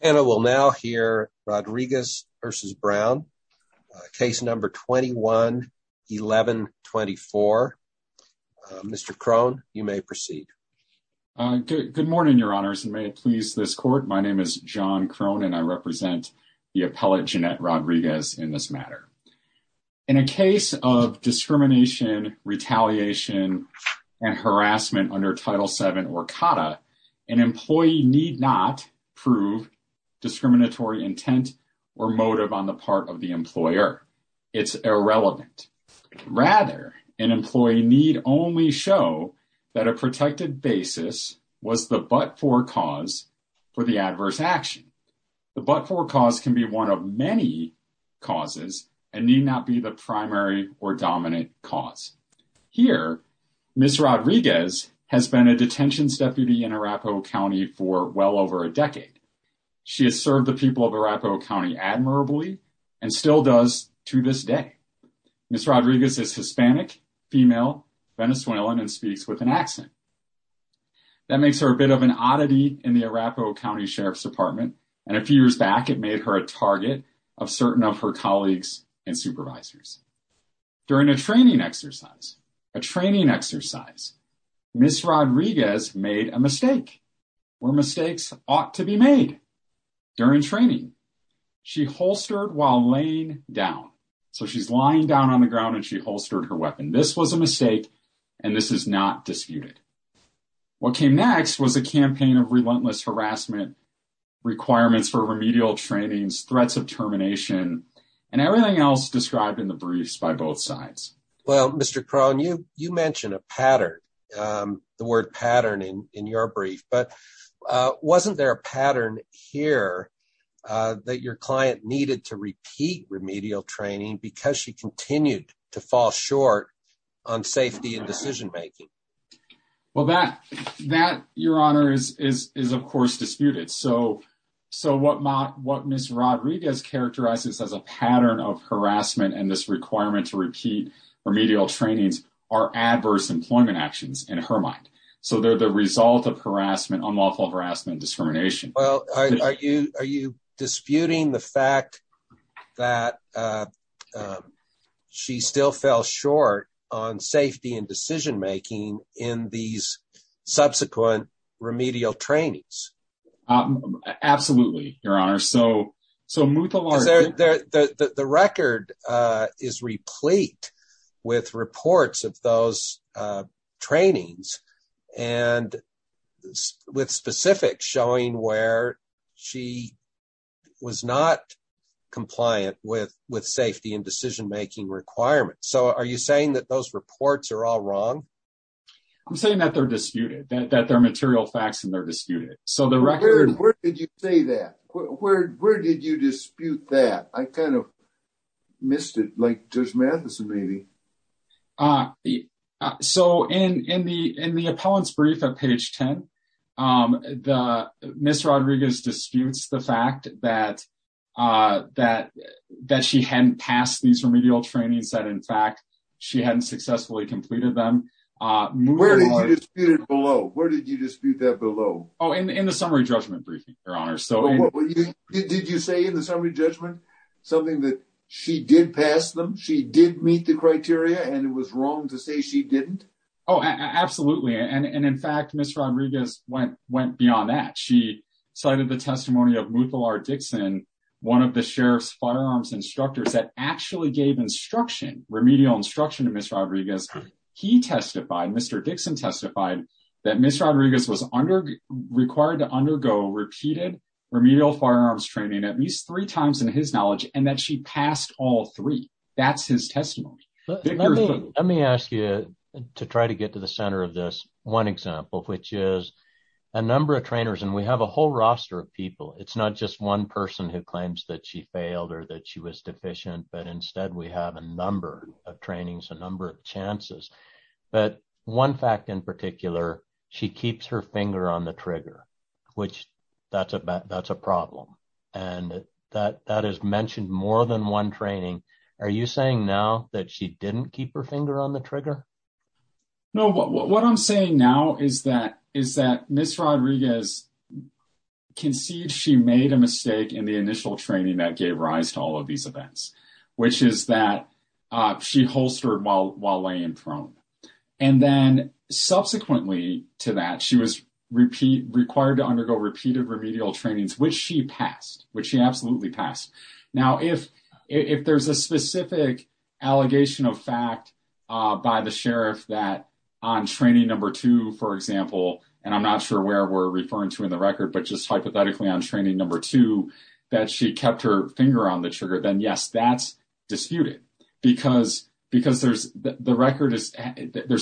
And I will now hear Rodriguez v. Brown, case number 21-1124. Mr. Krohn, you may proceed. Good morning, your honors, and may it please this court. My name is John Krohn and I represent the appellate Jeanette Rodriguez in this matter. In a case of discrimination, retaliation, and harassment under Title VII Orcata, an employee need not prove discriminatory intent or motive on the part of the employer. It's irrelevant. Rather, an employee need only show that a protected basis was the but-for cause for the adverse action. The but-for cause can be one of many causes and need not be the primary or dominant cause. Here, Ms. Rodriguez has served the people of Arapahoe County for well over a decade. She has served the people of Arapahoe County admirably and still does to this day. Ms. Rodriguez is Hispanic, female, Venezuelan, and speaks with an accent. That makes her a bit of an oddity in the Arapahoe County Sheriff's Department, and a few years back it made her a target of certain of her colleagues and supervisors. During a training exercise, Ms. Rodriguez made a mistake, where mistakes ought to be made during training. She holstered while laying down. So she's lying down on the ground and she holstered her weapon. This was a mistake and this is not disputed. What came next was a campaign of relentless harassment, requirements for remedial trainings, threats of termination, and everything else described in the briefs by both sides. Well, Mr. Crone, you mentioned a pattern, the word pattern in your brief, but wasn't there a pattern here that your client needed to repeat remedial training because she continued to fall short on safety and decision-making? Well, that, Your Honor, is of course disputed. So what Ms. Rodriguez characterizes as a pattern of harassment and this requirement to repeat remedial trainings are adverse employment actions in her mind. So they're the result of harassment, unlawful harassment, discrimination. Well, are you disputing the fact that she still fell short on safety and decision-making in these subsequent remedial trainings? Absolutely, Your Honor. So Muthalar... Because the record is replete with reports of those trainings and with specifics showing where she was not compliant with safety and decision-making requirements. So are you saying that those reports are all wrong? I'm saying that they're disputed, that they're material facts and they're Where did you say that? Where did you dispute that? I kind of missed it, like Judge Matheson, maybe. So in the appellant's brief at page 10, Ms. Rodriguez disputes the fact that she hadn't passed these remedial trainings, that in fact she hadn't successfully completed them. Where did you dispute it below? Where did you dispute that below? Oh, in the summary judgment briefing, Your Honor. Did you say in the summary judgment something that she did pass them, she did meet the criteria, and it was wrong to say she didn't? Oh, absolutely. And in fact, Ms. Rodriguez went beyond that. She cited the testimony of Muthalar Dixon, one of the sheriff's firearms instructors that actually gave instruction, remedial instruction to Ms. Rodriguez. He testified, Mr. Dixon testified, that Ms. Rodriguez was required to undergo repeated remedial firearms training at least three times, in his knowledge, and that she passed all three. That's his testimony. Let me ask you to try to get to the center of this one example, which is a number of trainers, and we have a whole roster of people. It's not just one person who claims that she failed or that she was deficient, but instead we have a number of trainings, a number of chances. But one fact in particular, she keeps her finger on the trigger, which that's a problem. And that is mentioned more than one training. Are you saying now that she didn't keep her finger on the trigger? No. What I'm saying now is that Ms. Rodriguez conceived she made a mistake in the initial training that gave rise to all of these events, which is that she holstered while laying prone. And then subsequently to that, she was required to undergo repeated remedial trainings, which she passed, which she absolutely passed. Now, if there's a specific allegation of fact by the sheriff that on training number two, for example, and I'm not sure where we're that she kept her finger on the trigger, then yes, that's disputed. Because there's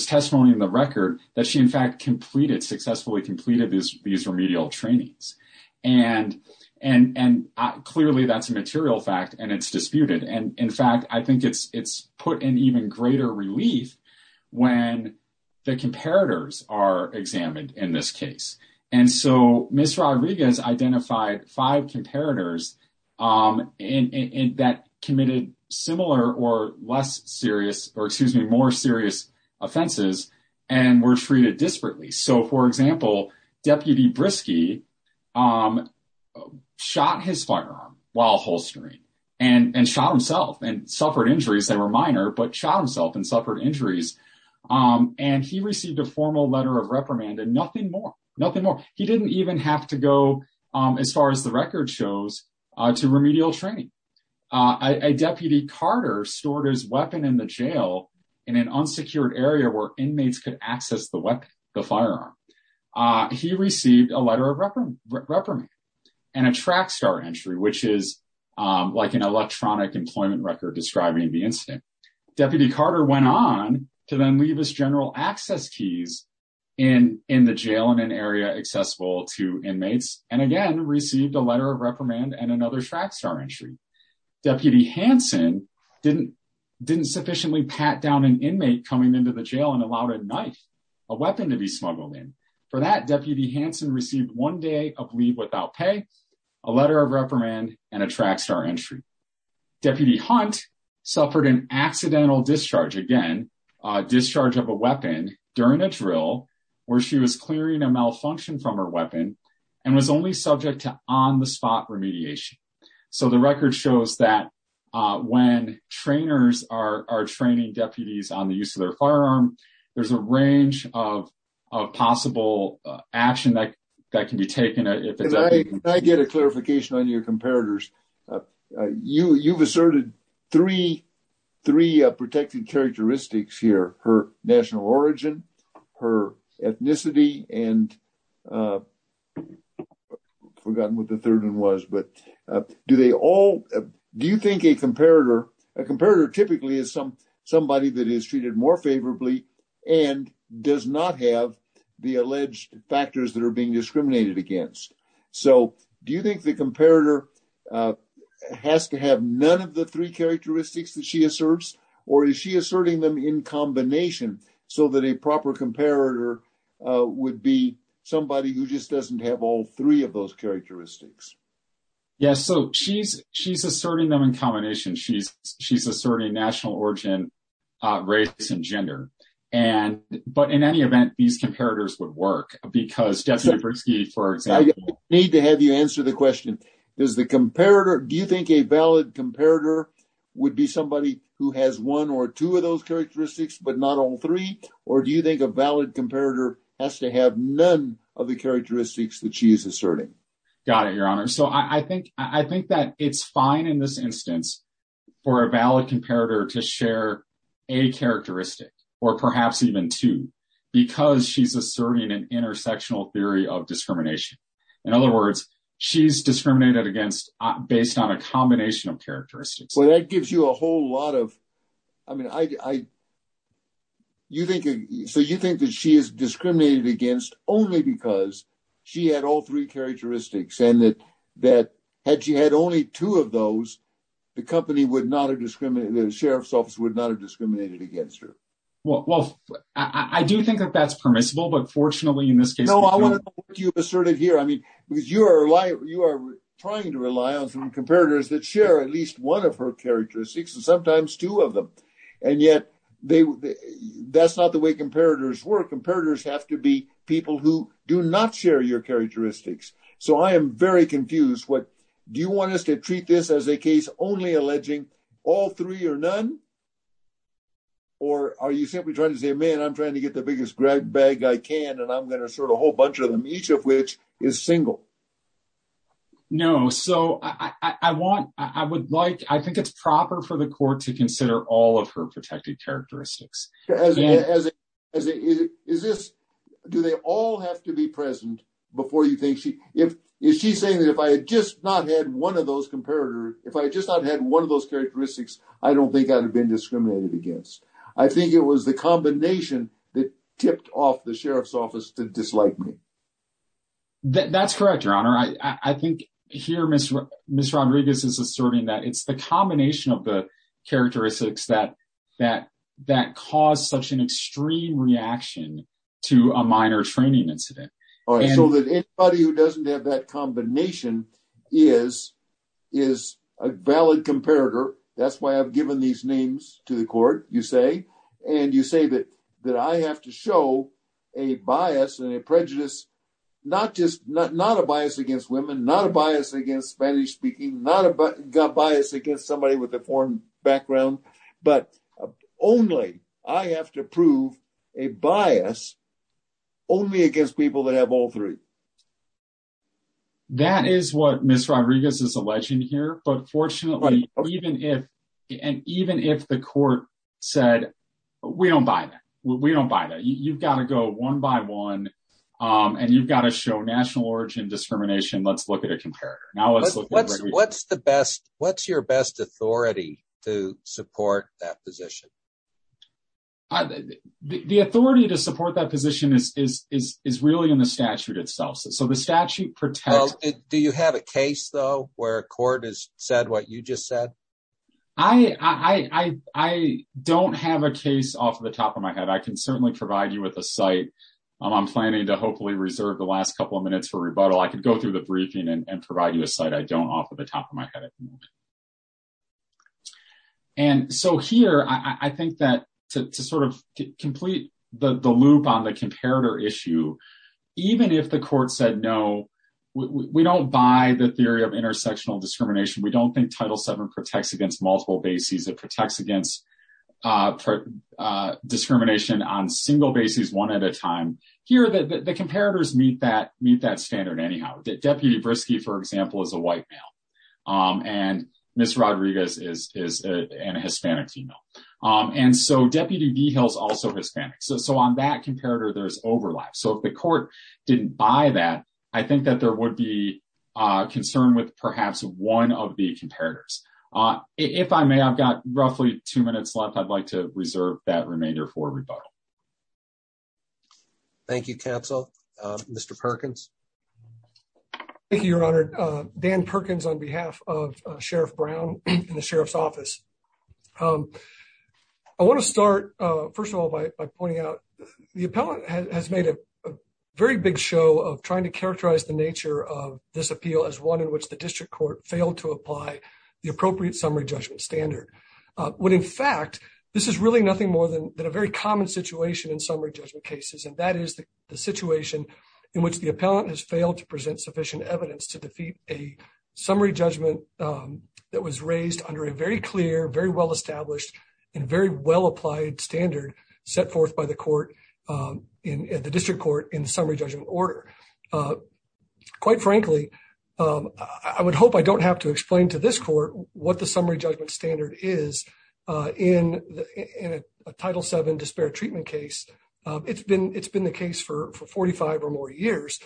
testimony in the record that she, in fact, successfully completed these remedial trainings. And clearly that's a material fact and it's disputed. And in fact, I think it's put in even greater relief when the comparators are examined in this case. And so Ms. Rodriguez identified five comparators that committed similar or less serious or excuse me, more serious offenses and were treated disparately. So, for example, Deputy Briskey shot his firearm while holstering and shot himself and suffered injuries that were minor, but shot himself and nothing more. He didn't even have to go as far as the record shows to remedial training. Deputy Carter stored his weapon in the jail in an unsecured area where inmates could access the weapon, the firearm. He received a letter of reprimand and a track star entry, which is like an electronic employment record describing the incident. Deputy Carter went on to then leave his general access keys in the jail in an area accessible to inmates and again, received a letter of reprimand and another track star entry. Deputy Hansen didn't sufficiently pat down an inmate coming into the jail and allowed a knife, a weapon to be smuggled in. For that, Deputy Hansen received one day of leave without pay, a letter of reprimand and a track star entry. Deputy Hunt suffered an accidental discharge, again, a discharge of a weapon during a drill where she was clearing a malfunction from her weapon and was only subject to on-the-spot remediation. So, the record shows that when trainers are training deputies on the use of their firearm, there's a range of possible action that can be taken. I get a clarification on your comparators. You've asserted three protected characteristics here, her national origin, her ethnicity, and forgotten what the third one was, but do they all, do you think a comparator, a comparator typically is somebody that is treated more favorably and does not have the alleged factors that are being discriminated against. So, do you think the comparator has to have none of the three characteristics that she asserts, or is she asserting them in combination so that a proper comparator would be somebody who just doesn't have all three of those characteristics? Yes. So, she's asserting them in combination. She's asserting national origin, race, and gender. But in any event, these comparators would work because for example. I need to have you answer the question. Does the comparator, do you think a valid comparator would be somebody who has one or two of those characteristics, but not all three? Or do you think a valid comparator has to have none of the characteristics that she's asserting? Got it, your honor. So, I think that it's fine in this instance for a valid comparator to share a characteristic, or perhaps even two, because she's asserting an intersectional theory of discrimination. In other words, she's discriminated against based on a combination of characteristics. Well, that gives you a whole lot of, I mean, so you think that she is discriminated against only because she had all three characteristics and that had she had only two of those, the company would not have discriminated, the sheriff's office would not have discriminated against her. Well, I do think that that's permissible, but fortunately in this case. No, I want to know what you asserted here. I mean, because you are trying to rely on some comparators that share at least one of her characteristics and sometimes two of them. And yet, that's not the way comparators work. Comparators have to be people who do not share your characteristics. So, I am very confused. Do you want us to treat this as a case only alleging all three or none? Or are you simply trying to say, man, I'm trying to get the biggest bag I can and I'm going to sort a whole bunch of them, each of which is single? No. So, I think it's proper for the court to consider all of her protected characteristics. Do they all have to be present before you think? Is she saying that if I had just not had one of those characteristics, I don't think I would have been discriminated against? I think it was the combination that tipped off the sheriff's office to dislike me. That's correct, Your Honor. I think here, Ms. Rodriguez is asserting that it's the combination of the characteristics that caused such an extreme reaction to a minor training incident. So, that anybody who doesn't have that combination is a valid comparator. That's why I've given these names to the court, you say. And you say that I have to show a bias and a prejudice, not a bias against women, not a bias against Spanish-speaking, not a bias against somebody with a foreign background, but only I have to prove a bias only against people that have all three. That is what Ms. Rodriguez is alleging here. But fortunately, even if the court said, we don't buy that. We don't buy that. You've got to go one by one and you've got to show national origin discrimination. Let's look at a comparator. Now, let's look at Ms. Rodriguez. What's your best authority to support that position? The authority to support that position is really in the statute itself. So, the statute protects. Do you have a case, though, where a court has said what you just said? I don't have a case off the top of my head. I can certainly provide you with a site. I'm planning to hopefully reserve the last couple of minutes for rebuttal. I could go the briefing and provide you a site I don't off of the top of my head. And so, here, I think that to sort of complete the loop on the comparator issue, even if the court said, no, we don't buy the theory of intersectional discrimination. We don't think Title VII protects against multiple bases. It protects against discrimination on single bases, one at a time. Here, the comparators meet that standard anyhow. Deputy Briskey, for example, is a white male, and Ms. Rodriguez is a Hispanic female. And so, Deputy DeHill is also Hispanic. So, on that comparator, there's overlap. So, if the court didn't buy that, I think that there would be concern with perhaps one of the comparators. If I may, I've got roughly two minutes left. I'd like to reserve that remainder for rebuttal. Thank you, Counsel. Mr. Perkins? Thank you, Your Honor. Dan Perkins on behalf of Sheriff Brown in the Sheriff's Office. I want to start, first of all, by pointing out the appellant has made a very big show of trying to characterize the nature of this appeal as one in which the district court failed to apply the appropriate summary judgment standard. When, in fact, this is really nothing more than a very common situation in summary judgment cases, and that is the situation in which the appellant has failed to present sufficient evidence to defeat a summary judgment that was raised under a very clear, very well-established, and very well-applied standard set forth by the district court in the summary judgment order. Quite frankly, I would hope I don't have to explain to this court what the summary judgment standard is in a Title VII disparate treatment case. It's been the case for 45 or more years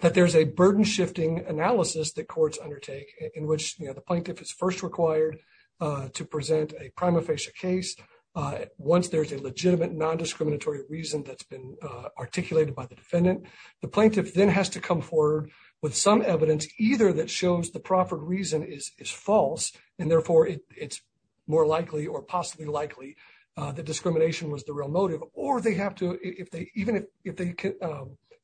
that there's a burden-shifting analysis that courts undertake in which the plaintiff is first required to present a prima facie case once there's a legitimate non-discriminatory reason that's been articulated by the defendant. The plaintiff then has to come forward with some it's more likely or possibly likely that discrimination was the real motive, or they have to, even if they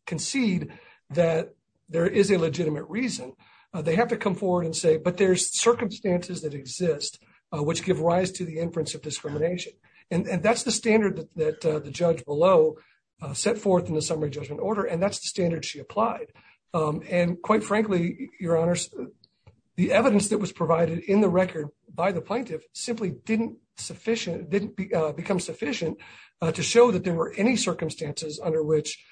concede that there is a legitimate reason, they have to come forward and say, but there's circumstances that exist which give rise to the inference of discrimination. That's the standard that the judge below set forth in the summary judgment order, and that's the standard she applied. Quite frankly, Your Honors, the evidence that was by the plaintiff simply didn't become sufficient to show that there were any circumstances under which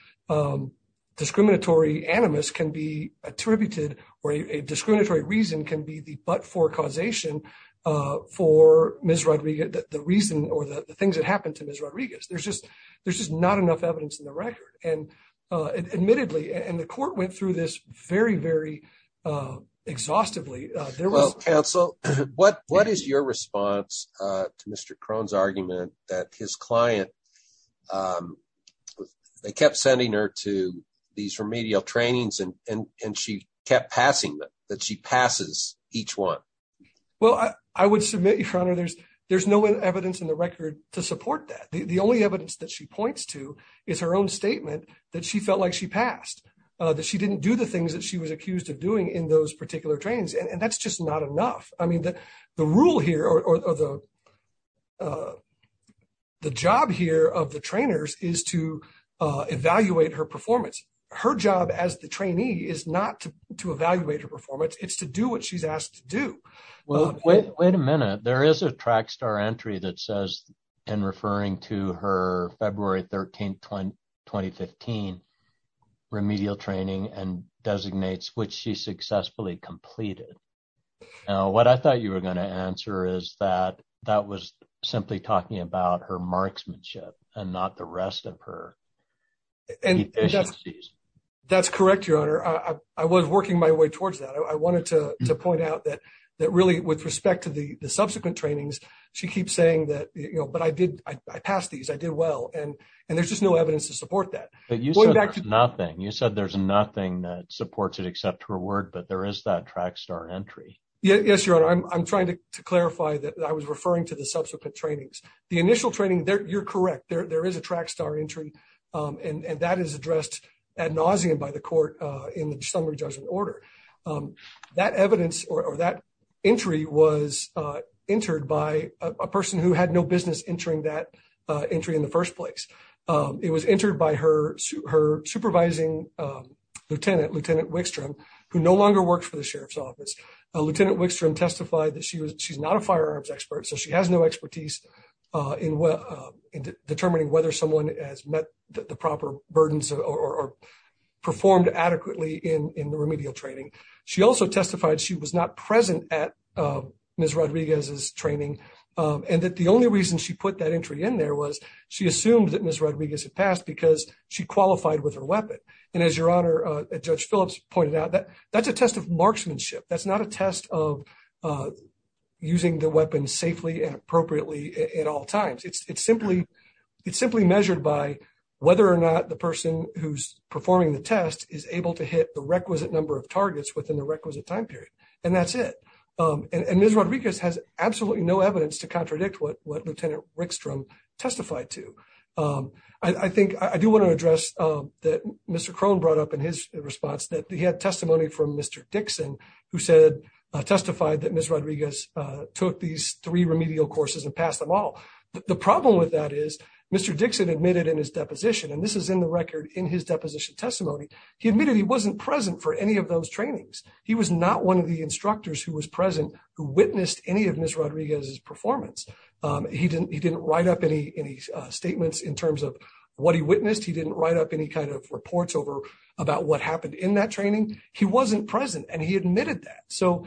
discriminatory animus can be attributed or a discriminatory reason can be the but-for causation for Ms. Rodriguez, the reason or the things that happened to Ms. Rodriguez. There's just not enough evidence in the record, and admittedly, and the court went through this very, very exhaustively. Well, counsel, what is your response to Mr. Crone's argument that his client, they kept sending her to these remedial trainings and she kept passing them, that she passes each one? Well, I would submit, Your Honor, there's no evidence in the record to support that. The only evidence that she points to is her own statement that she felt like she passed, that she didn't do things that she was accused of doing in those particular trainings, and that's just not enough. I mean, the rule here or the job here of the trainers is to evaluate her performance. Her job as the trainee is not to evaluate her performance. It's to do what she's asked to do. Well, wait a minute. There is a track star entry that says, and referring to her February 13, 2015, remedial training and designates which she successfully completed. Now, what I thought you were going to answer is that that was simply talking about her marksmanship and not the rest of her efficiencies. That's correct, Your Honor. I was working my way towards that. I wanted to point out that really, with respect to the subsequent trainings, she keeps saying that, but I passed these, I did well, and there's just no evidence to support that. But you said there's nothing. You said there's nothing that supports it except her word, but there is that track star entry. Yes, Your Honor. I'm trying to clarify that I was referring to the subsequent trainings. The initial training, you're correct, there is a track star entry, and that is addressed ad nauseum by the court in the summary judgment order. That evidence or that entry was entered by a person who had no business entering that entry in the first place. It was entered by her supervising lieutenant, Lieutenant Wickstrom, who no longer works for the sheriff's office. Lieutenant Wickstrom testified that she's not a firearms expert, so she has no expertise in determining whether someone has met the proper burdens or performed adequately in the remedial training. She also testified she was not present at Ms. Rodriguez's training, and that the only reason she put that entry in there was she assumed that Ms. Rodriguez had passed because she qualified with her weapon. And as Your Honor, Judge Phillips pointed out, that's a test of marksmanship. That's not a test of using the weapon safely and appropriately at all times. It's simply measured by whether or not the person who's performing the test is able to hit the requisite number of targets within the requisite time period, and that's it. And Ms. Rodriguez has absolutely no evidence to contradict what Lieutenant Wickstrom testified to. I do want to address that Mr. Crone brought up in his response that he had testimony from Mr. Dixon who testified that Ms. Rodriguez took these three remedial courses and passed them all. The problem with that is Mr. Dixon admitted in his deposition, and this is in the record in his deposition testimony, he admitted he wasn't present for any of those trainings. He was not one of the instructors who was present who witnessed any of Ms. Rodriguez's performance. He didn't write up any statements in terms of what he witnessed. He didn't write up any kind of reports over about what happened in that training. He wasn't present, and he admitted that. So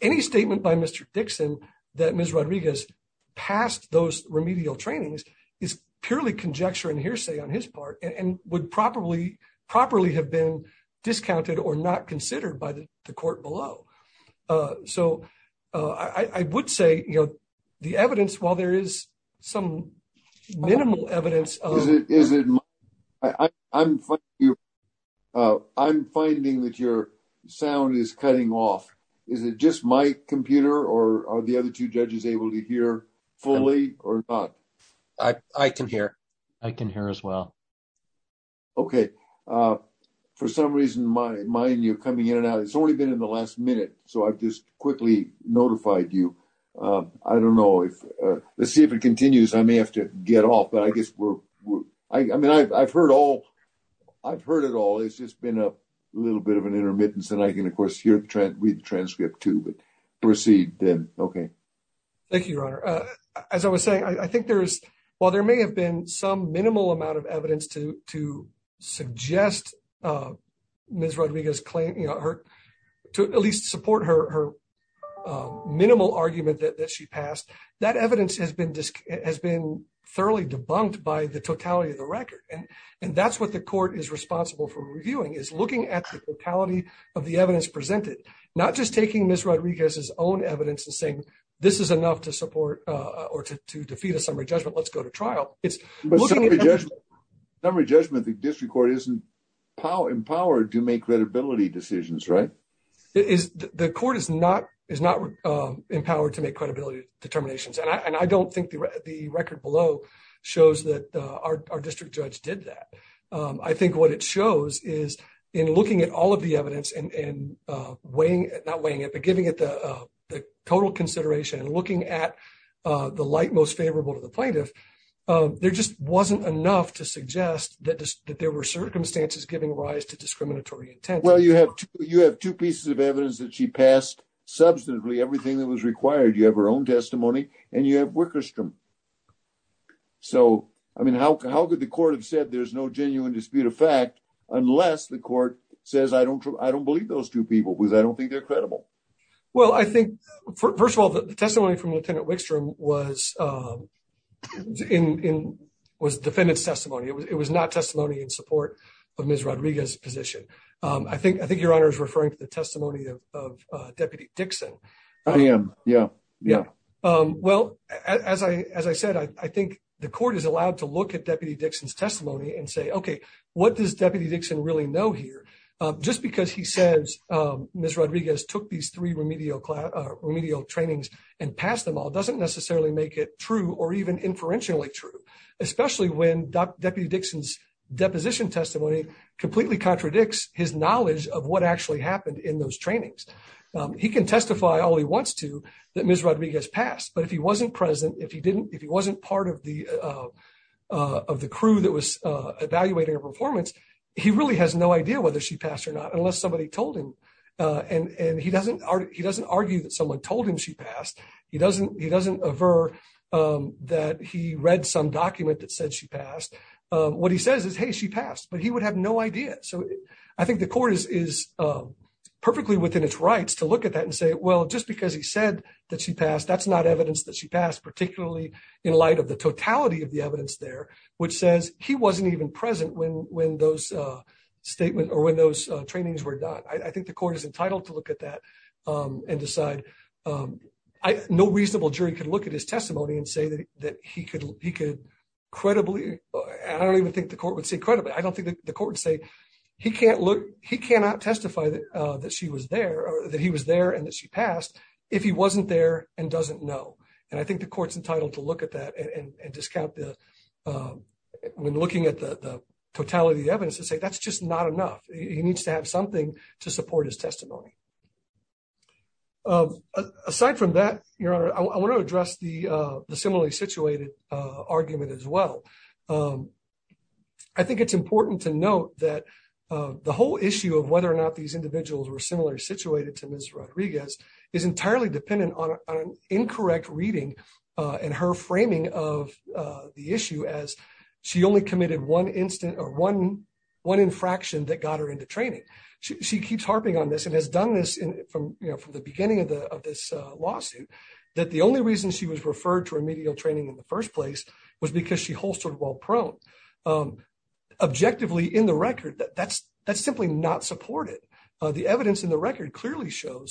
any statement by Mr. Dixon that Ms. Rodriguez passed those remedial trainings is purely conjecture and hearsay on his part and would properly have been discounted or not considered by the court below. So I would say, you know, the evidence, while there is some minimal evidence of... I'm finding that your sound is cutting off. Is it just my computer or are the other two judges able to hear fully or not? I can hear. I can hear as well. Okay. For some reason, mine, you're coming in and out. It's only been in the last minute, so I've just quickly notified you. I don't know if... Let's see if it continues. I may have to get off, but I guess we're... I mean, I've heard all... I've heard it all. It's just been a little bit of an intermittence, and I can, of course, read the transcript too, but proceed then. Okay. Thank you, Your Honor. As I was saying, I think there's... While there may have been some minimal amount of evidence to suggest Ms. Rodriguez's claim, you know, to at least support her minimal argument that she passed, that evidence has been thoroughly debunked by the totality of the record, and that's what the court is responsible for reviewing, is looking at the totality of the evidence presented, not just taking Ms. Rodriguez's own evidence and saying, this is enough to support or to defeat a summary judgment. Let's go to trial. It's looking at... But summary judgment, the district court isn't empowered to make credibility decisions, right? The court is not empowered to make credibility determinations, and I don't think the record below shows that our district judge did that. I think what it shows is in looking at all of the evidence and weighing it, not weighing it, but giving it the total consideration and looking at the light most favorable to the plaintiff, there just wasn't enough to suggest that there were circumstances giving rise to discriminatory intent. Well, you have two pieces of evidence that she passed substantively, everything that was required. You have her own testimony and you have Wickerstrom. So, I mean, how could the court have said there's no genuine dispute of fact unless the court says, I don't believe those two people because I don't think they're credible. Well, I think, first of all, the testimony from Lieutenant Wickstrom was defendant's testimony. It was not testimony in support of Ms. Rodriguez's position. I think Your Honor is referring to the testimony of Deputy Dixon. I am, yeah. Well, as I said, I think the court is allowed to look at Deputy Dixon's testimony and say, okay, what does Deputy Dixon really know here? Just because he says Ms. Rodriguez took these three remedial trainings and passed them all doesn't necessarily make it true or even inferentially true, especially when Deputy Dixon's deposition testimony completely contradicts his knowledge of what actually happened in those trainings. He can testify all he wants to that Ms. Rodriguez passed, but if he wasn't present, if he didn't, if he wasn't part of the crew that was evaluating her performance, he really has no idea whether she passed or not unless somebody told him. And he doesn't argue that someone told him she passed. He doesn't aver that he read some document that said she passed. What he says is, hey, she passed, but he would have no idea. So I think the court is perfectly within its rights to look at that and say, well, just because he said that she passed, that's not evidence that she passed, particularly in light of the totality of the evidence there, which says he wasn't even present when those trainings were done. I think the court is entitled to look at that and decide. No reasonable jury could look at his testimony and say that he could credibly, I don't even think the court would say credibly, I don't think the court would say he cannot testify that he was there and that she had passed. I think it's important to note that the whole issue of whether or not these individuals were similarly situated to Ms. Rodriguez is entirely dependent on an incorrect reading and her framing of the issue as she only committed one infraction that got her into training. She keeps harping on this and has done this from the beginning of this lawsuit, that the only reason she was referred to remedial training in the first place was because she holstered while prone. Objectively, in the record, that's simply not supported. The evidence in the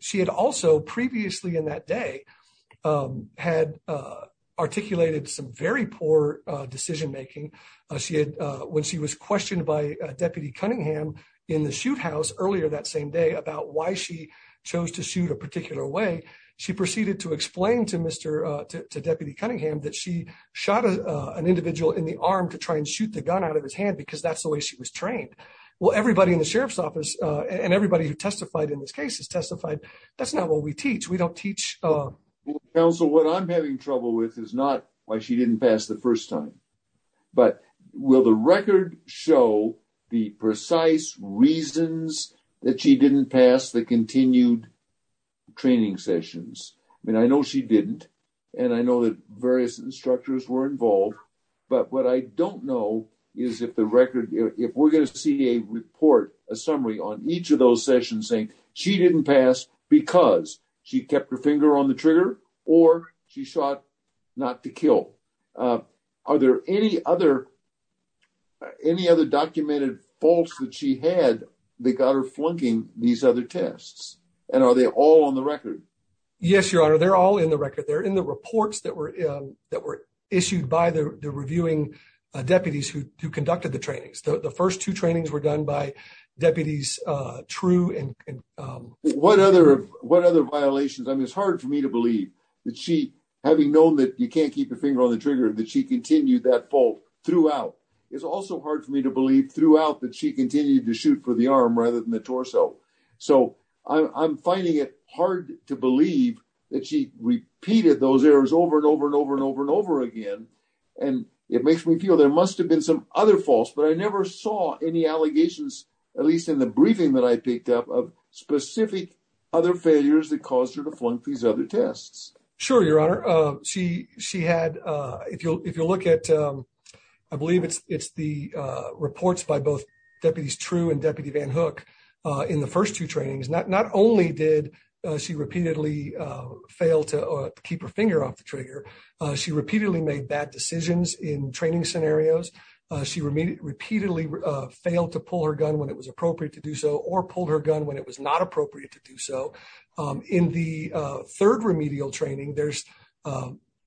she had also previously in that day had articulated some very poor decision making. When she was questioned by Deputy Cunningham in the shoot house earlier that same day about why she chose to shoot a particular way, she proceeded to explain to Deputy Cunningham that she shot an individual in the arm to try and shoot the gun out of his hand because that's the way she was trained. Well, everybody in the sheriff's office and everybody who testified in this case has testified that's not what we teach. We don't teach... Counsel, what I'm having trouble with is not why she didn't pass the first time, but will the record show the precise reasons that she didn't pass the continued training sessions? I mean, I know she didn't and I know various instructors were involved, but what I don't know is if we're going to see a report, a summary on each of those sessions saying she didn't pass because she kept her finger on the trigger or she shot not to kill. Are there any other documented faults that she had that got her flunking these other tests and are they all on the record? Yes, Your Honor, they're all in the record. They're in the reports that were issued by the reviewing deputies who conducted the trainings. The first two trainings were done by deputies True and... What other violations? I mean, it's hard for me to believe that she, having known that you can't keep your finger on the trigger, that she continued that fault throughout. It's also hard for me to believe throughout that she continued to shoot for the arm rather than the torso. So I'm finding it hard to believe that she repeated those errors over and over and over and over and over again. And it makes me feel there must have been some other faults, but I never saw any allegations, at least in the briefing that I picked up, of specific other failures that caused her to flunk these other tests. Sure, Your Honor. She had, if you'll look at, I believe it's the reports by both deputies True and Deputy Van Hook in the first two trainings, not only did she repeatedly fail to keep her finger off the trigger, she repeatedly made bad decisions in training scenarios. She repeatedly failed to pull her gun when it was appropriate to do so or pulled her gun when it was not appropriate to do so. In the third remedial training,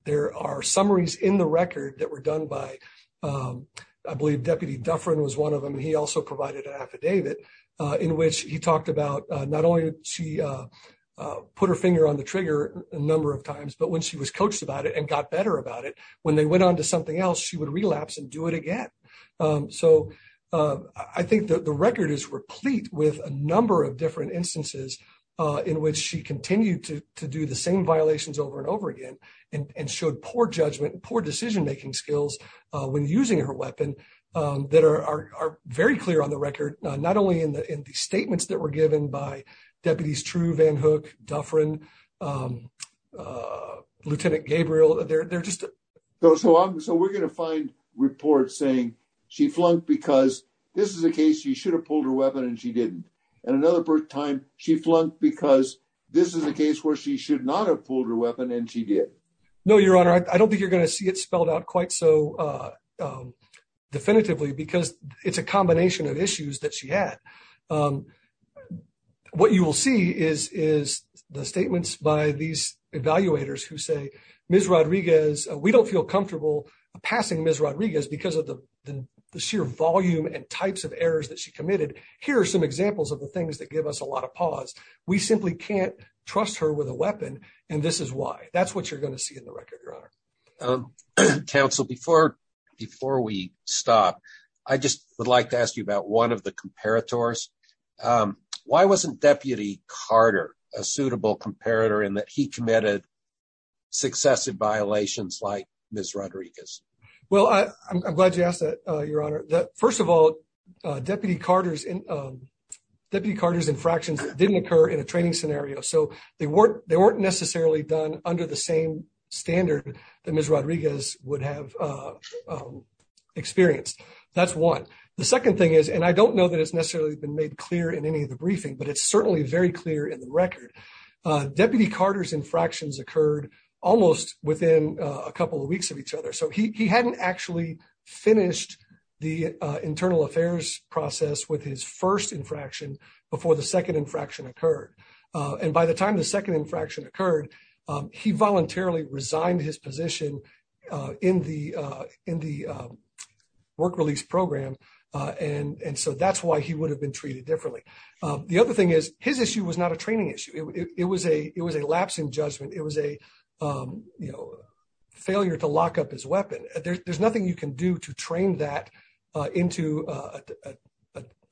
there are summaries in the record that were done by, I believe Deputy Dufferin was one of them, he also provided an affidavit in which he talked about not only she put her finger on the trigger a number of times, but when she was coached about it and got better about it, when they went on to something else, she would relapse and do it again. So I think that the record is replete with a number of different instances in which she continued to do the same violations over and over again and showed poor judgment, poor decision-making skills when using her weapon that are very clear on the record, not only in the statements that were given by Deputies True, Van Hook, Dufferin, Lieutenant Gabriel, they're just... So we're going to find reports saying she flunked because this is a case she should have pulled her weapon and she didn't. And another time she flunked because this is a case where she should not have pulled her weapon and she did. No, Your Honor, I don't think you're going to see it spelled out quite so definitively because it's a combination of issues that she had. What you will see is the statements by these evaluators who say, Ms. Rodriguez, we don't feel comfortable passing Ms. Rodriguez because of the sheer volume and types of errors that she committed. Here are some examples of the things that give us a lot of pause. We simply can't trust her with a weapon and this is why. That's what you're going to see in the record, Your Honor. Counsel, before we stop, I just would like to ask you about one of the comparators. Why wasn't Deputy Carter a suitable comparator in that he committed successive violations like Ms. Rodriguez? Well, I'm glad you asked that, Your Honor. First of all, Deputy Carter's infractions didn't occur in a training scenario, so they weren't necessarily done under the same standard that Ms. Rodriguez would have experienced. That's one. The second thing is, and I don't know that it's necessarily been made clear in any of the briefing, but it's certainly very clear in the record. Deputy Carter's infractions occurred almost within a couple of years of Ms. Rodriguez's first infraction before the second infraction occurred. By the time the second infraction occurred, he voluntarily resigned his position in the work release program and so that's why he would have been treated differently. The other thing is, his issue was not a training issue. It was a lapse in judgment. It was a failure to lock up his weapon. There's a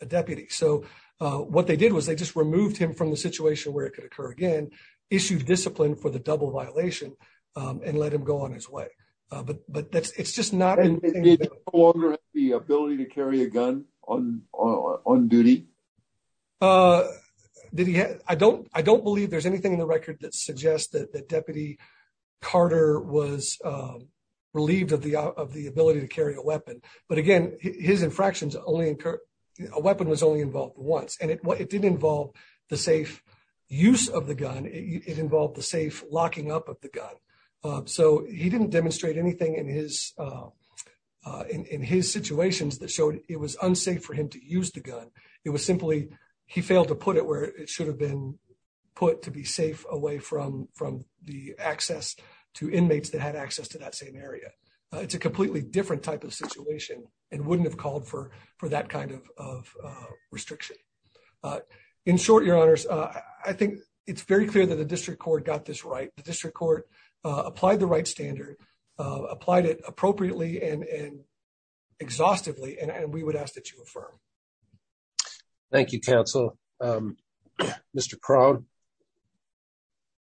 deputy. So what they did was they just removed him from the situation where it could occur again, issued discipline for the double violation, and let him go on his way. But it's just not... Did he have the ability to carry a gun on duty? I don't believe there's anything in the record that suggests that Deputy Carter was relieved of the ability to carry a weapon. But again, his infractions only occur... A weapon was only involved once and it did involve the safe use of the gun. It involved the safe locking up of the gun. So he didn't demonstrate anything in his situations that showed it was unsafe for him to use the gun. It was simply he failed to put it where it should have been put to be safe away from the access to inmates that had access to that same area. It's a completely different type of situation and wouldn't have called for that kind of restriction. In short, your honors, I think it's very clear that the district court got this right. The district court applied the right standard, applied it appropriately and exhaustively, and we ask that you affirm. Thank you, counsel. Mr. Crone.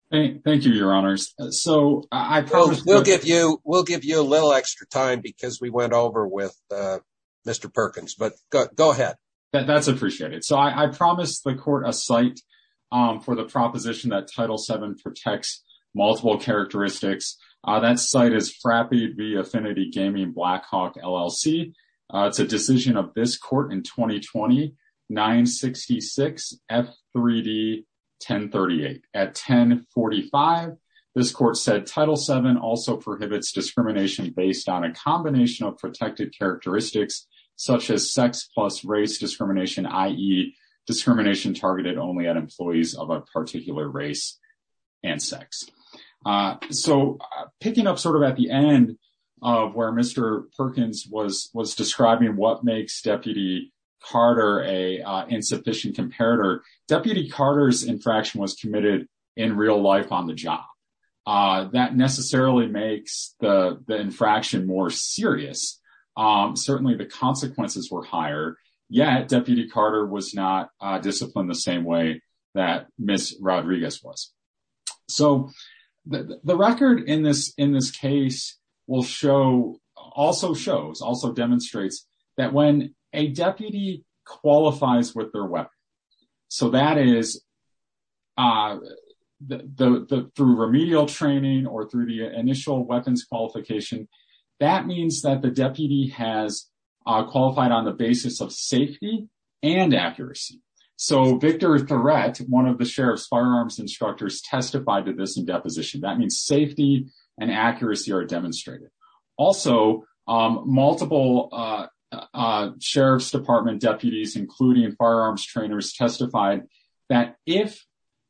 Thank you, your honors. We'll give you a little extra time because we went over with Mr. Perkins, but go ahead. That's appreciated. So I promised the court a site for the proposition that Title VII protects multiple characteristics. That site is Frappi v. Affinity Gaming Blackhawk LLC. It's a decision of this court in 2020-966-F3D-1038. At 1045, this court said Title VII also prohibits discrimination based on a combination of protected characteristics, such as sex plus race discrimination, i.e. discrimination targeted only at employees of a particular race and sex. So picking up sort of at the end of where Mr. Perkins was describing what makes Deputy Carter an insufficient comparator, Deputy Carter's infraction was committed in real life on the job. That necessarily makes the infraction more serious. Certainly, the consequences were higher, yet Deputy Carter was not disciplined the same way that Ms. Rodriguez was. So the record in this case also shows, also demonstrates, that when a deputy qualifies with their weapon, so that is through remedial training or through initial weapons qualification, that means that the deputy has qualified on the basis of safety and accuracy. So Victor Threat, one of the sheriff's firearms instructors, testified to this in deposition. That means safety and accuracy are demonstrated. Also, multiple sheriff's department deputies, including firearms trainers, testified that if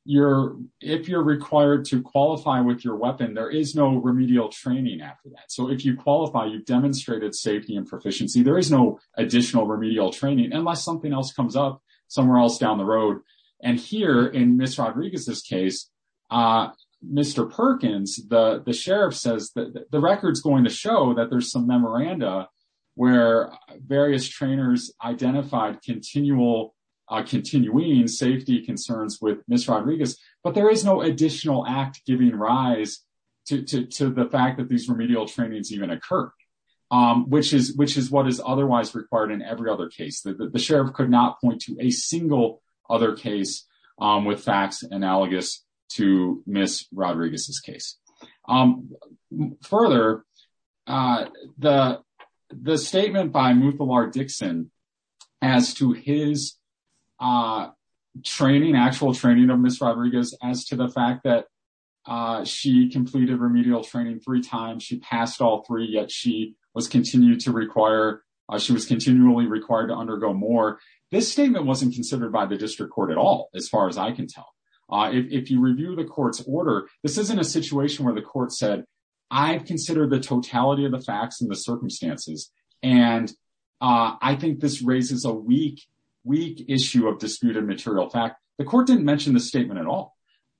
you're required to train, there is no remedial training after that. So if you qualify, you've demonstrated safety and proficiency. There is no additional remedial training unless something else comes up somewhere else down the road. And here, in Ms. Rodriguez's case, Mr. Perkins, the sheriff says that the record's going to show that there's some memoranda where various trainers identified continuing safety concerns with Ms. Rodriguez, but there is no additional act giving rise to the fact that these remedial trainings even occur, which is what is otherwise required in every other case. The sheriff could not point to a single other case with facts analogous to his actual training of Ms. Rodriguez as to the fact that she completed remedial training three times, she passed all three, yet she was continually required to undergo more. This statement wasn't considered by the district court at all, as far as I can tell. If you review the court's order, this isn't a situation where the court said, I've considered the totality of weak issue of disputed material fact. The court didn't mention the statement at all.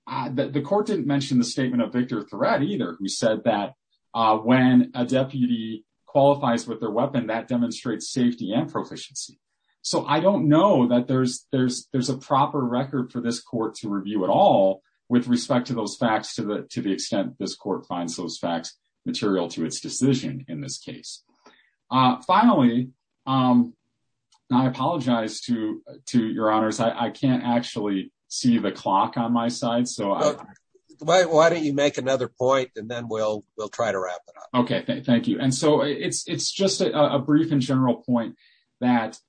The court didn't mention the statement of Victor Threat either, who said that when a deputy qualifies with their weapon, that demonstrates safety and proficiency. So I don't know that there's a proper record for this court to review at all with respect to those facts to the extent this court finds those facts material to its decision in this case. Finally, I apologize to your honors. I can't actually see the clock on my side. So why don't you make another point and then we'll try to wrap it up. Okay, thank you. And so it's just a brief and general point that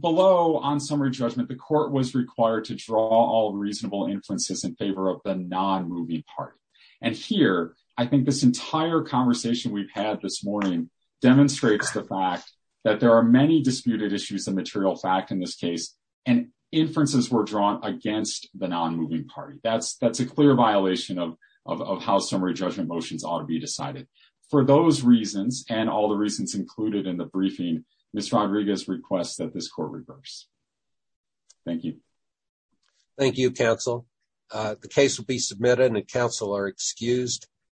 below on summary judgment, the court was required to draw all reasonable influences in favor of the non-movie part. And here, I think this entire conversation we've had this morning demonstrates the fact that there are many disputed issues and material fact in this case and inferences were drawn against the non-moving party. That's a clear violation of how summary judgment motions ought to be decided. For those reasons and all the reasons included in the briefing, Ms. Rodriguez requests that this court reverse. Thank you. Thank you, counsel. The case will be submitted and counsel are excused.